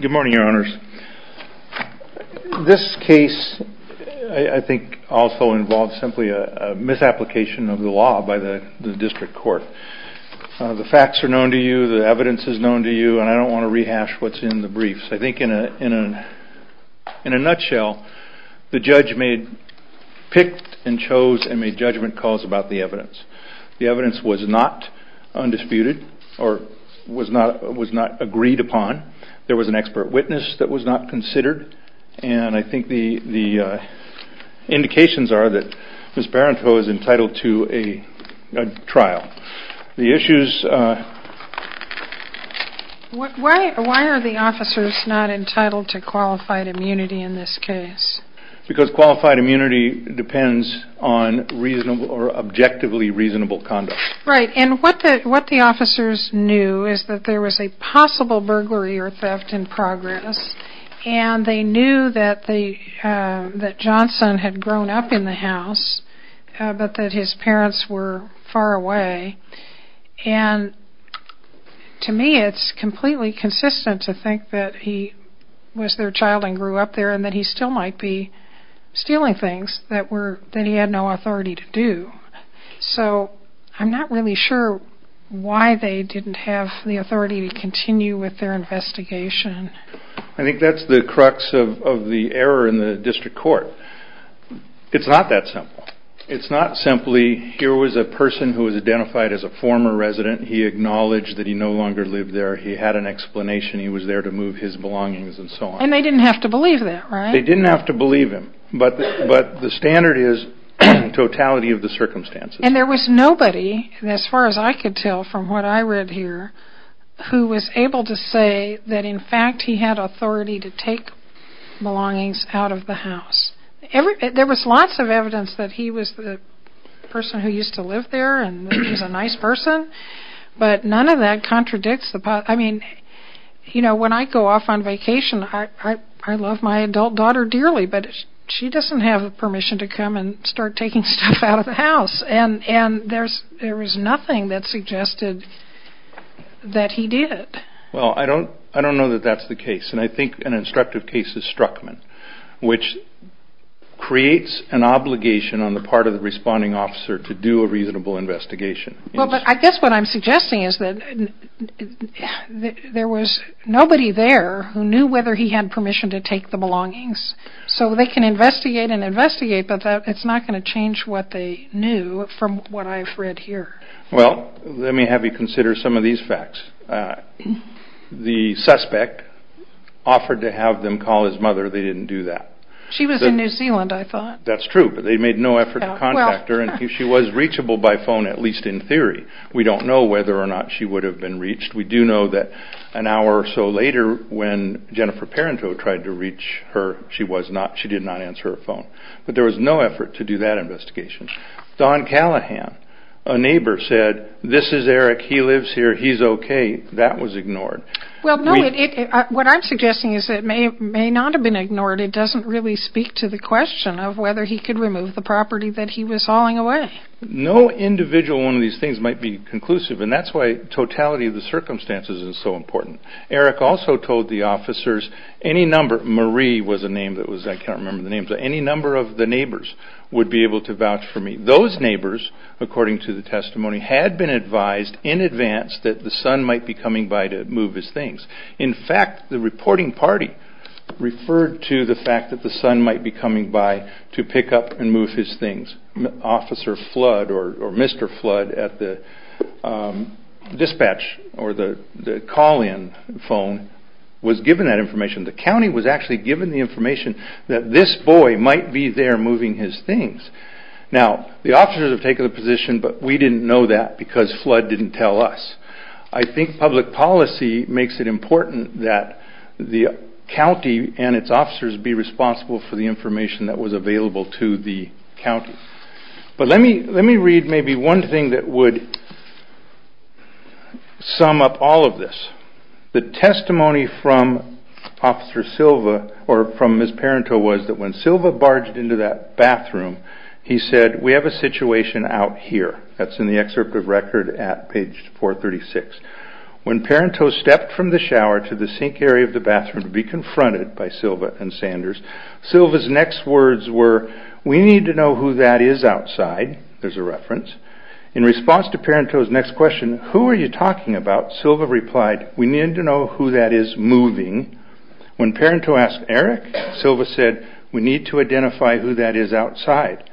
Good morning, your honors. This case, I think, also involves simply a misapplication of the law by the district court. The facts are known to you, the evidence is known to you, and I don't want to rehash what's in the briefs. I think in a nutshell, the judge picked and chose and made judgment calls about the evidence. The evidence was not undisputed or was not agreed to. There was an expert witness that was not considered, and I think the indications are that Ms. Parenteau is entitled to a trial. The issues... Why are the officers not entitled to qualified immunity in this case? Because qualified immunity depends on reasonable or objectively reasonable conduct. Right, and what the officers knew is that there was a possible burglary or theft in progress, and they knew that Johnson had grown up in the house, but that his parents were far away, and to me it's completely consistent to think that he was their child and grew up there and that he still might be stealing things that he had no authority to do. So, I'm not really sure why they didn't have the authority to continue with their investigation. I think that's the crux of the error in the district court. It's not that simple. It's not simply, here was a person who was identified as a former resident, he acknowledged that he no longer lived there, he had an explanation, he was there to move his belongings, and so on. And they didn't have to believe that, right? They didn't have to believe him, but the standard is totality of the circumstances. And there was nobody, as far as I could tell from what I read here, who was able to say that in fact he had authority to take belongings out of the house. There was lots of evidence that he was the person who used to live there and he was a nice person, but none of that contradicts the... I mean, you know, when I go off on vacation, I love my adult daughter dearly, but she doesn't have permission to come and start taking stuff out of the house. And there was nothing that suggested that he did. Well, I don't know that that's the case, and I think an instructive case is Struckman, which creates an obligation on the part of the responding officer to do a reasonable investigation. Well, but I guess what I'm suggesting is that there was nobody there who knew whether he had permission to take the belongings, so they can investigate and investigate, but it's not going to change what they knew from what I've read here. Well, let me have you consider some of these facts. The suspect offered to have them call his mother. They didn't do that. She was in New Zealand, I thought. That's true, but they made no effort to contact her, and she was reachable by phone, at least in theory. We don't know whether or not she would have been reached. We do know that an hour or so later, when Jennifer Parenteau tried to reach her, she did not answer her phone. But there was no effort to do that investigation. Don Callahan, a neighbor, said, this is Eric, he lives here, he's okay. That was ignored. Well, no, what I'm suggesting is that it may not have been ignored. It doesn't really speak to the question of whether he could remove the property that he was hauling away. No individual one of these things might be conclusive, and that's why totality of the circumstances is so important. Eric also told the officers, any number of the neighbors would be able to vouch for me. Those neighbors, according to the testimony, had been advised in advance that the son might be coming by to move his things. In fact, the reporting party referred to the fact that the son might be coming by to pick up and move his things. Officer Flood or Mr. Flood at the dispatch or the call-in phone was given that information. The county was actually given the information that this boy might be there moving his things. Now, the officers have taken a position, but we didn't know that because Flood didn't tell us. I think public policy makes it important that the county and its officers be responsible for the information that was available to the county. But let me read maybe one thing that would sum up all of this. The testimony from Officer Silva or from Ms. Parenteau was that when Silva barged into that bathroom, he said, we have a situation out here. That's in the excerpt of record at page 436. When Parenteau stepped from the shower to the sink area of the bathroom to be confronted by Silva and Sanders, Silva's next words were, we need to know who that is outside. There's a reference. In response to Parenteau's next question, who are you talking about? Silva replied, we need to know who that is moving. When Parenteau asked Eric, Silva said, we need to identify who that is outside.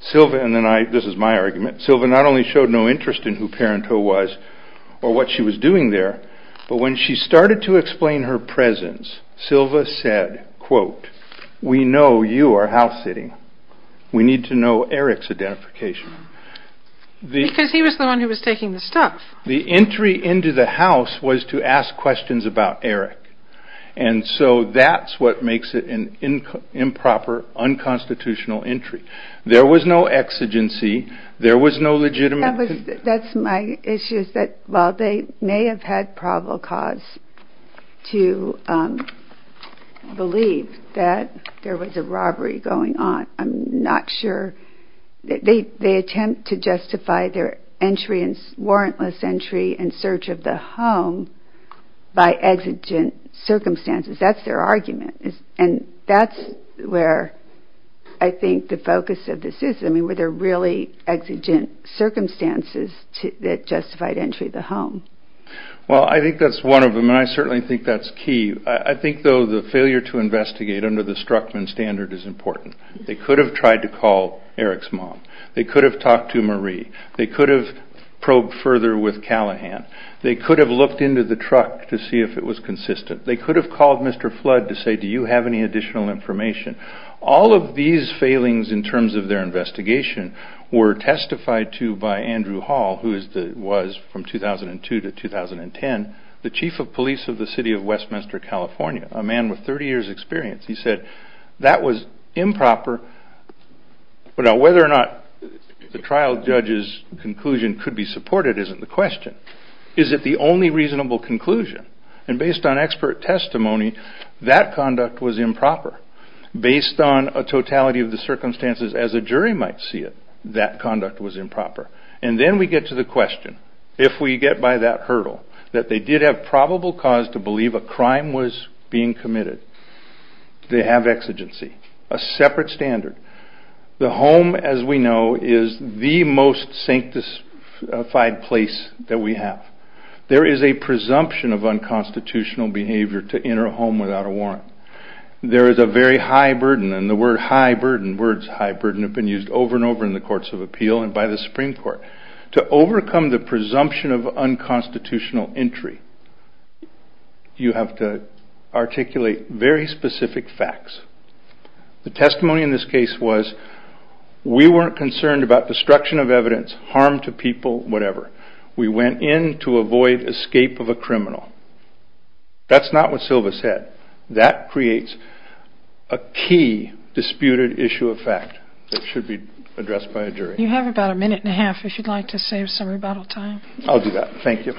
Silva, and this is my argument, Silva not only showed no interest in who Parenteau was or what she was doing there, but when she started to explain her presence, Silva said, quote, we know you are house sitting. We need to know Eric's identification. Because he was the one who was taking the stuff. The entry into the house was to ask questions about Eric. And so that's what makes it an improper, unconstitutional entry. There was no exigency. There was no legitimate. That's my issue is that while they may have had probable cause to believe that there was a robbery going on, I'm not sure, they attempt to justify their warrantless entry and search of the home by exigent circumstances. That's their argument. And that's where I think the focus of this is. I mean, were there really exigent circumstances that justified entry to the home? Well, I think that's one of them. And I certainly think that's key. I think, though, the failure to investigate under the Struckman standard is important. They could have tried to call Eric's mom. They could have talked to Marie. They could have probed further with Callahan. They could have looked into the truck to see if it was consistent. They could have called Mr. Flood to say, do you have any additional information? All of these failings in terms of their investigation were testified to by Andrew Hall, who was from 2002 to 2010 the chief of police of the city of Westminster, California, a man with 30 years experience. He said that was improper. Now, whether or not the trial judge's conclusion could be supported isn't the question. Is it the only reasonable conclusion? And based on expert testimony, that conduct was improper. Based on a totality of the circumstances as a jury might see it, that conduct was improper. And then we get to the question, if we get by that hurdle, that they did have probable cause to believe a crime was being committed, do they have exigency? A separate standard. The home, as we know, is the most sanctified place that we have. There is a presumption of unconstitutional behavior to enter a home without a warrant. There is a very high burden, and the word high burden, words high burden, have been used over and over in the courts of appeal and by the Supreme Court. To overcome the presumption of unconstitutional entry, you have to articulate very specific facts. The testimony in this case was we weren't concerned about destruction of evidence, harm to people, whatever. We went in to avoid escape of a criminal. That's not what Silva said. That creates a key disputed issue of fact that should be addressed by a jury. You have about a minute and a half if you'd like to save some rebuttal time. I'll do that. Thank you.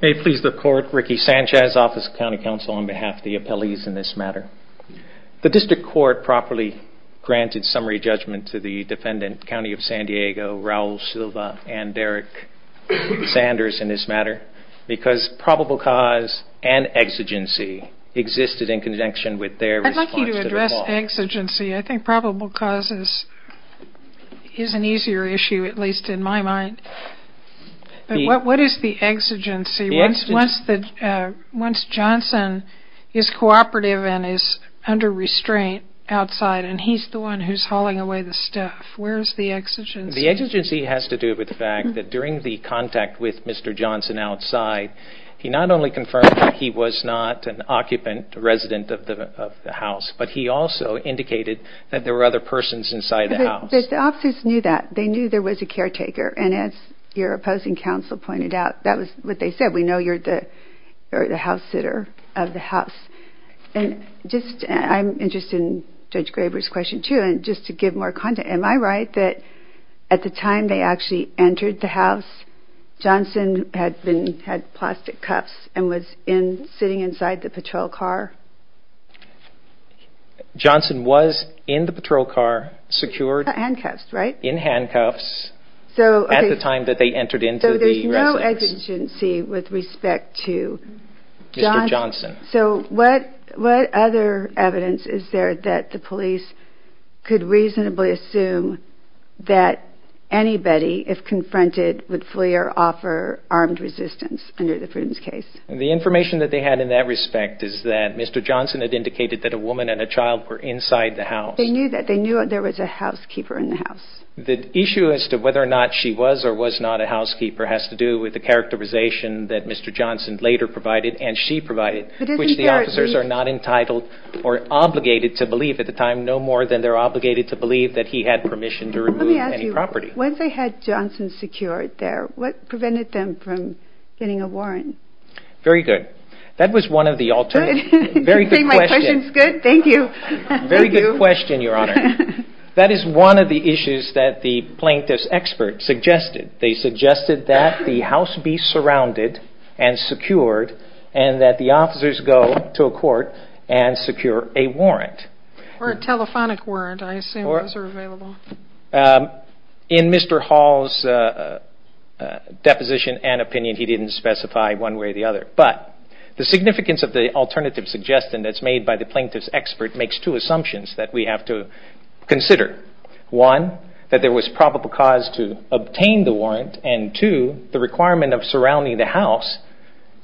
May it please the Court, Ricky Sanchez, Office of County Counsel, on behalf of the appellees in this matter. The District Court properly granted summary judgment to the defendant, County of San Diego, Raul Silva and Derrick Sanders in this matter, because probable cause and exigency existed in conjunction with their response to the law. I'd like you to address exigency. I think probable cause is an easier issue, at least in my mind. What is the exigency? Once Johnson is cooperative and is under restraint outside, and he's the one who's hauling away the stuff, where's the exigency? The exigency has to do with the fact that during the contact with Mr. Johnson outside, he not only confirmed that he was not an occupant resident of the house, but he also indicated that there were other persons inside the house. The officers knew that. They knew there was a caretaker, and as your opposing counsel pointed out, that was what they said. We know you're the house sitter of the house. I'm interested in Judge Graber's question, too, and just to give more context, am I right that at the time they actually entered the house, Johnson had plastic cuffs and was sitting inside the patrol car? Johnson was in the patrol car, secured. Handcuffs, right? In handcuffs at the time that they entered into the residence. So there's no exigency with respect to Johnson? Mr. Johnson. So what other evidence is there that the police could reasonably assume that anybody, if confronted, would flee or offer armed resistance under the Prudence case? The information that they had in that respect is that Mr. Johnson had indicated that a woman and a child were inside the house. They knew that. They knew there was a housekeeper in the house. The issue as to whether or not she was or was not a housekeeper has to do with the characterization that Mr. Johnson later provided and she provided, which the officers are not entitled or obligated to believe at the time, no more than they're obligated to believe that he had permission to remove any property. Let me ask you, once they had Johnson secured there, what prevented them from getting a warrant? Very good. That was one of the alternative. You think my question's good? Thank you. Very good question, Your Honor. That is one of the issues that the plaintiff's expert suggested. They suggested that the house be surrounded and secured and that the officers go to a court and secure a warrant. Or a telephonic warrant. I assume those are available. In Mr. Hall's deposition and opinion, he didn't specify one way or the other. But the significance of the alternative suggestion that's made by the plaintiff's expert makes two assumptions that we have to consider. One, that there was probable cause to obtain the warrant. And two, the requirement of surrounding the house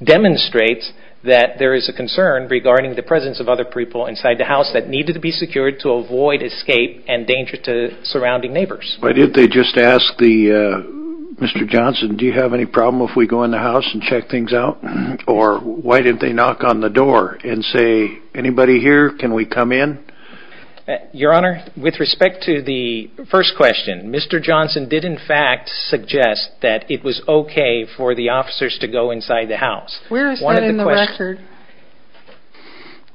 demonstrates that there is a concern regarding the presence of other people inside the house that needed to be secured to avoid escape and danger to surrounding neighbors. Why didn't they just ask Mr. Johnson, do you have any problem if we go in the house and check things out? Or why didn't they knock on the door and say, anybody here? Can we come in? Your Honor, with respect to the first question, Mr. Johnson did in fact suggest that it was okay for the officers to go inside the house. Where is that in the record?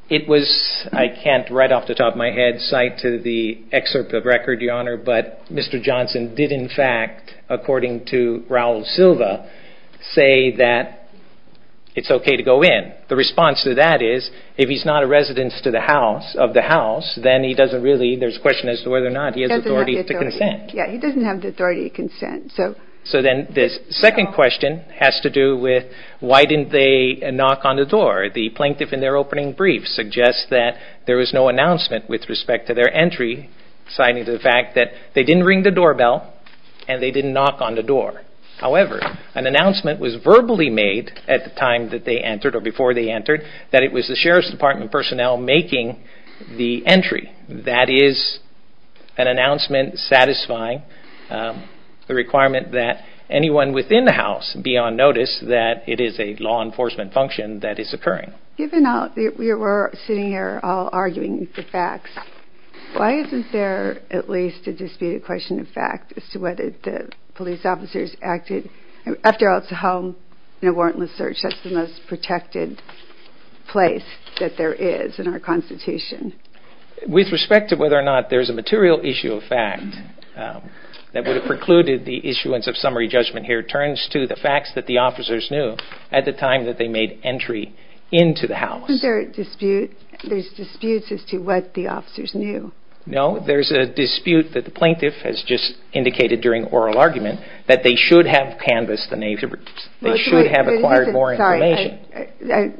It was, I can't right off the top of my head cite to the excerpt of record, Your Honor, but Mr. Johnson did in fact, according to Raul Silva, say that it's okay to go in. The response to that is, if he's not a resident of the house, then he doesn't really, there's a question as to whether or not he has authority to consent. Yeah, he doesn't have the authority to consent. So then this second question has to do with why didn't they knock on the door? The plaintiff in their opening brief suggests that there was no announcement with respect to their entry citing the fact that they didn't ring the doorbell and they didn't knock on the door. However, an announcement was verbally made at the time that they entered or before they entered that it was the Sheriff's Department personnel making the entry. That is an announcement satisfying the requirement that anyone within the house be on notice that it is a law enforcement function that is occurring. Given that we were sitting here all arguing the facts, why isn't there at least a disputed question of fact as to whether the police officers acted? After all, it's a home and a warrantless search. That's the most protected place that there is in our Constitution. With respect to whether or not there's a material issue of fact that would have precluded the issuance of summary judgment here turns to the facts that the officers knew at the time that they made entry into the house. Isn't there a dispute? There's disputes as to what the officers knew. No, there's a dispute that the plaintiff has just indicated during oral argument that they should have acquired more information.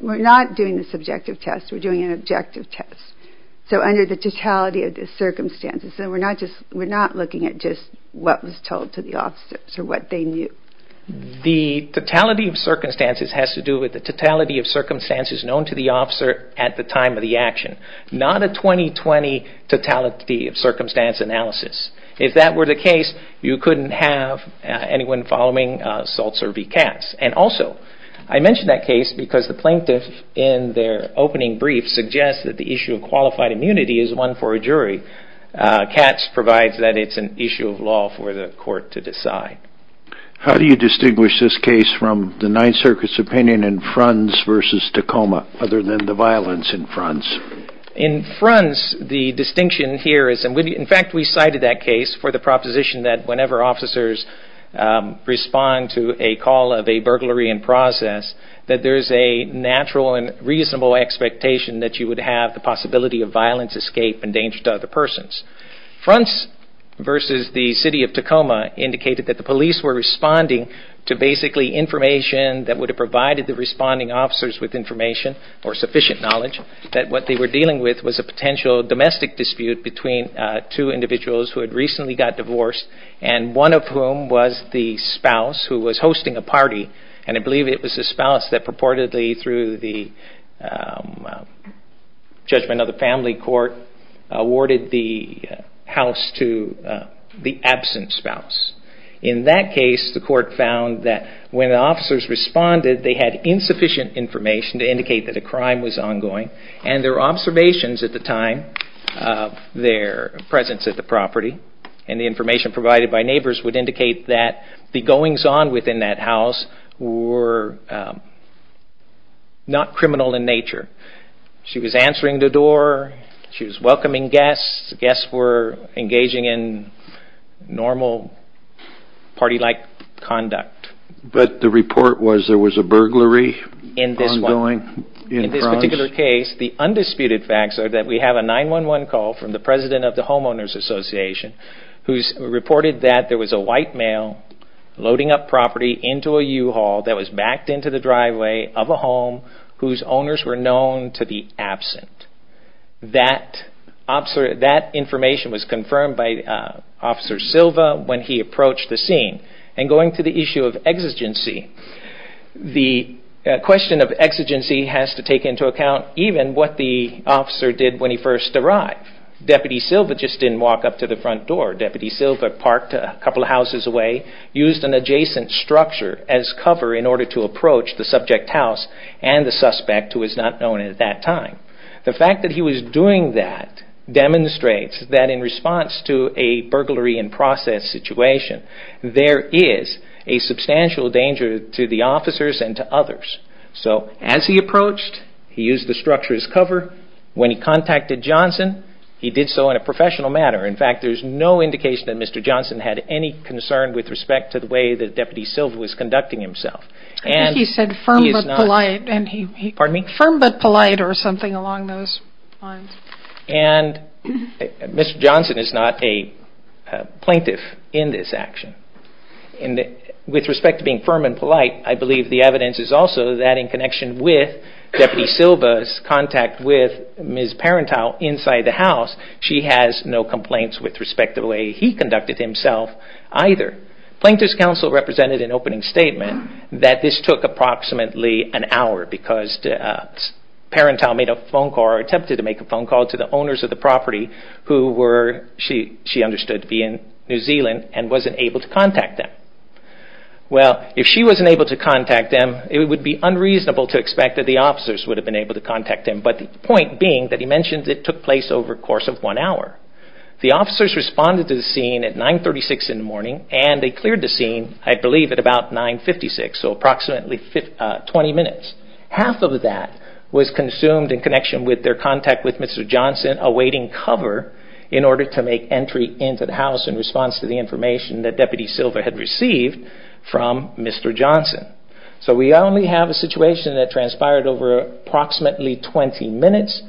We're not doing a subjective test. We're doing an objective test. So under the totality of the circumstances, we're not looking at just what was told to the officers or what they knew. The totality of circumstances has to do with the totality of circumstances known to the officer at the time of the action. Not a 20-20 totality of circumstance analysis. If that were the case, you couldn't have anyone following assaults or be cats. And also, I mention that case because the plaintiff in their opening brief suggests that the issue of qualified immunity is one for a jury. Cats provides that it's an issue of law for the court to decide. How do you distinguish this case from the Ninth Circuit's opinion other than the violence in Fronts? In Fronts, the distinction here is, in fact, we cited that case for the proposition that whenever officers respond to a call of a burglary in process, that there's a natural and reasonable expectation that you would have the possibility of violence, escape, and danger to other persons. Fronts versus the city of Tacoma indicated that the police were responding to basically information that would have provided the responding officers with information or sufficient knowledge that what they were dealing with was a potential domestic dispute between two individuals who had recently got divorced and one of whom was the spouse who was hosting a party. And I believe it was the spouse that purportedly, through the judgment of the family court, awarded the house to the absent spouse. In that case, the court found that when the officers responded, they had insufficient information to indicate that a crime was ongoing, and their observations at the time of their presence at the property and the information provided by neighbors would indicate that the goings-on within that house were not criminal in nature. She was answering the door, she was welcoming guests, guests were engaging in normal party-like conduct. But the report was there was a burglary ongoing? In this particular case, the undisputed facts are that we have a 911 call from the president of the Homeowners Association, who's reported that there was a white male loading up property into a U-Haul that was backed into the driveway of a home whose owners were known to be absent. That information was confirmed by Officer Silva when he approached the scene. And going to the issue of exigency, the question of exigency has to take into account even what the officer did when he first arrived. Deputy Silva just didn't walk up to the front door. Deputy Silva parked a couple of houses away, used an adjacent structure as cover in order to approach the subject house and the suspect, who was not known at that time. The fact that he was doing that demonstrates that in response to a burglary in process situation, there is a substantial danger to the officers and to others. So as he approached, he used the structure as cover. When he contacted Johnson, he did so in a professional manner. In fact, there's no indication that Mr. Johnson had any concern with respect to the way that Deputy Silva was conducting himself. I think he said firm but polite. Pardon me? Firm but polite or something along those lines. And Mr. Johnson is not a plaintiff in this action. With respect to being firm and polite, I believe the evidence is also that in connection with Deputy Silva's contact with Ms. Parentow inside the house, she has no complaints with respect to the way he conducted himself either. Plaintiff's counsel represented an opening statement that this took approximately an hour because Parentow attempted to make a phone call to the owners of the property who she understood to be in New Zealand and wasn't able to contact them. Well, if she wasn't able to contact them, it would be unreasonable to expect that the officers would have been able to contact them, but the point being that he mentioned it took place over a course of one hour. The officers responded to the scene at 9.36 in the morning and they cleared the scene, I believe, at about 9.56, so approximately 20 minutes. Half of that was consumed in connection with their contact with Mr. Johnson awaiting cover in order to make entry into the house in response to the information that Deputy Silva had received from Mr. Johnson. So we only have a situation that transpired over approximately 20 minutes.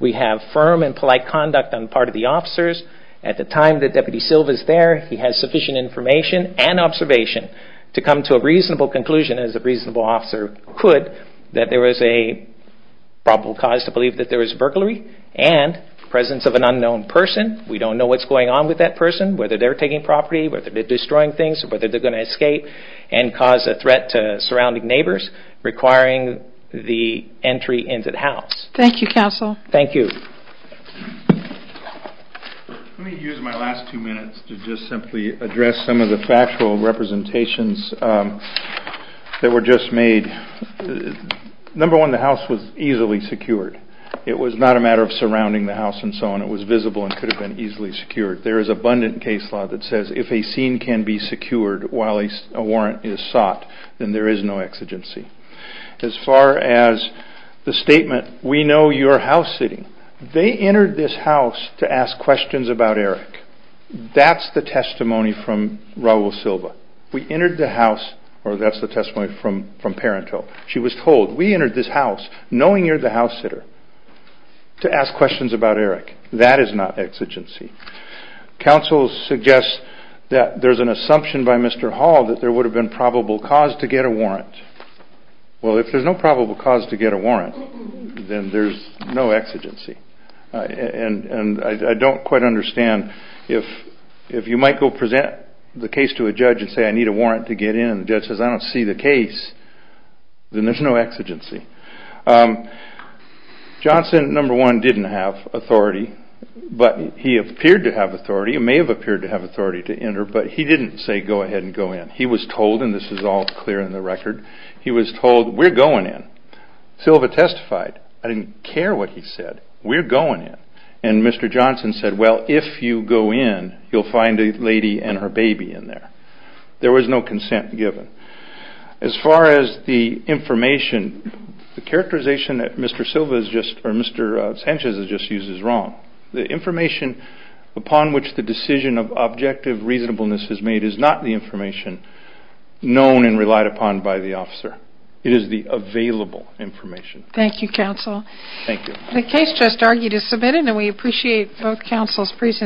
We have firm and polite conduct on the part of the officers. At the time that Deputy Silva is there, he has sufficient information and observation to come to a reasonable conclusion, as a reasonable officer could, that there was a probable cause to believe that there was burglary and presence of an unknown person. We don't know what's going on with that person, whether they're taking property, whether they're destroying things, or whether they're going to escape and cause a threat to surrounding neighbors requiring the entry into the house. Thank you, Counsel. Thank you. Let me use my last two minutes to just simply address some of the factual representations that were just made. Number one, the house was easily secured. It was not a matter of surrounding the house and so on. It was visible and could have been easily secured. There is abundant case law that says if a scene can be secured while a warrant is sought, then there is no exigency. As far as the statement, we know you're house sitting, they entered this house to ask questions about Eric. That's the testimony from Raul Silva. We entered the house, or that's the testimony from Parenteau. She was told, we entered this house knowing you're the house sitter to ask questions about Eric. That is not exigency. Counsel suggests that there's an assumption by Mr. Hall that there would have been probable cause to get a warrant. Well, if there's no probable cause to get a warrant, then there's no exigency. And I don't quite understand if you might go present the case to a judge and say I need a warrant to get in and the judge says I don't see the case, then there's no exigency. Johnson, number one, didn't have authority, but he appeared to have authority and may have appeared to have authority to enter, but he didn't say go ahead and go in. He was told, and this is all clear in the record, he was told we're going in. Silva testified. I didn't care what he said. We're going in. And Mr. Johnson said, well, if you go in, you'll find a lady and her baby in there. There was no consent given. As far as the information, the characterization that Mr. Sanchez has just used is wrong. The information upon which the decision of objective reasonableness is made is not the information known and relied upon by the officer. It is the available information. Thank you, counsel. Thank you. The case just argued is submitted, and we appreciate both counsel's presences.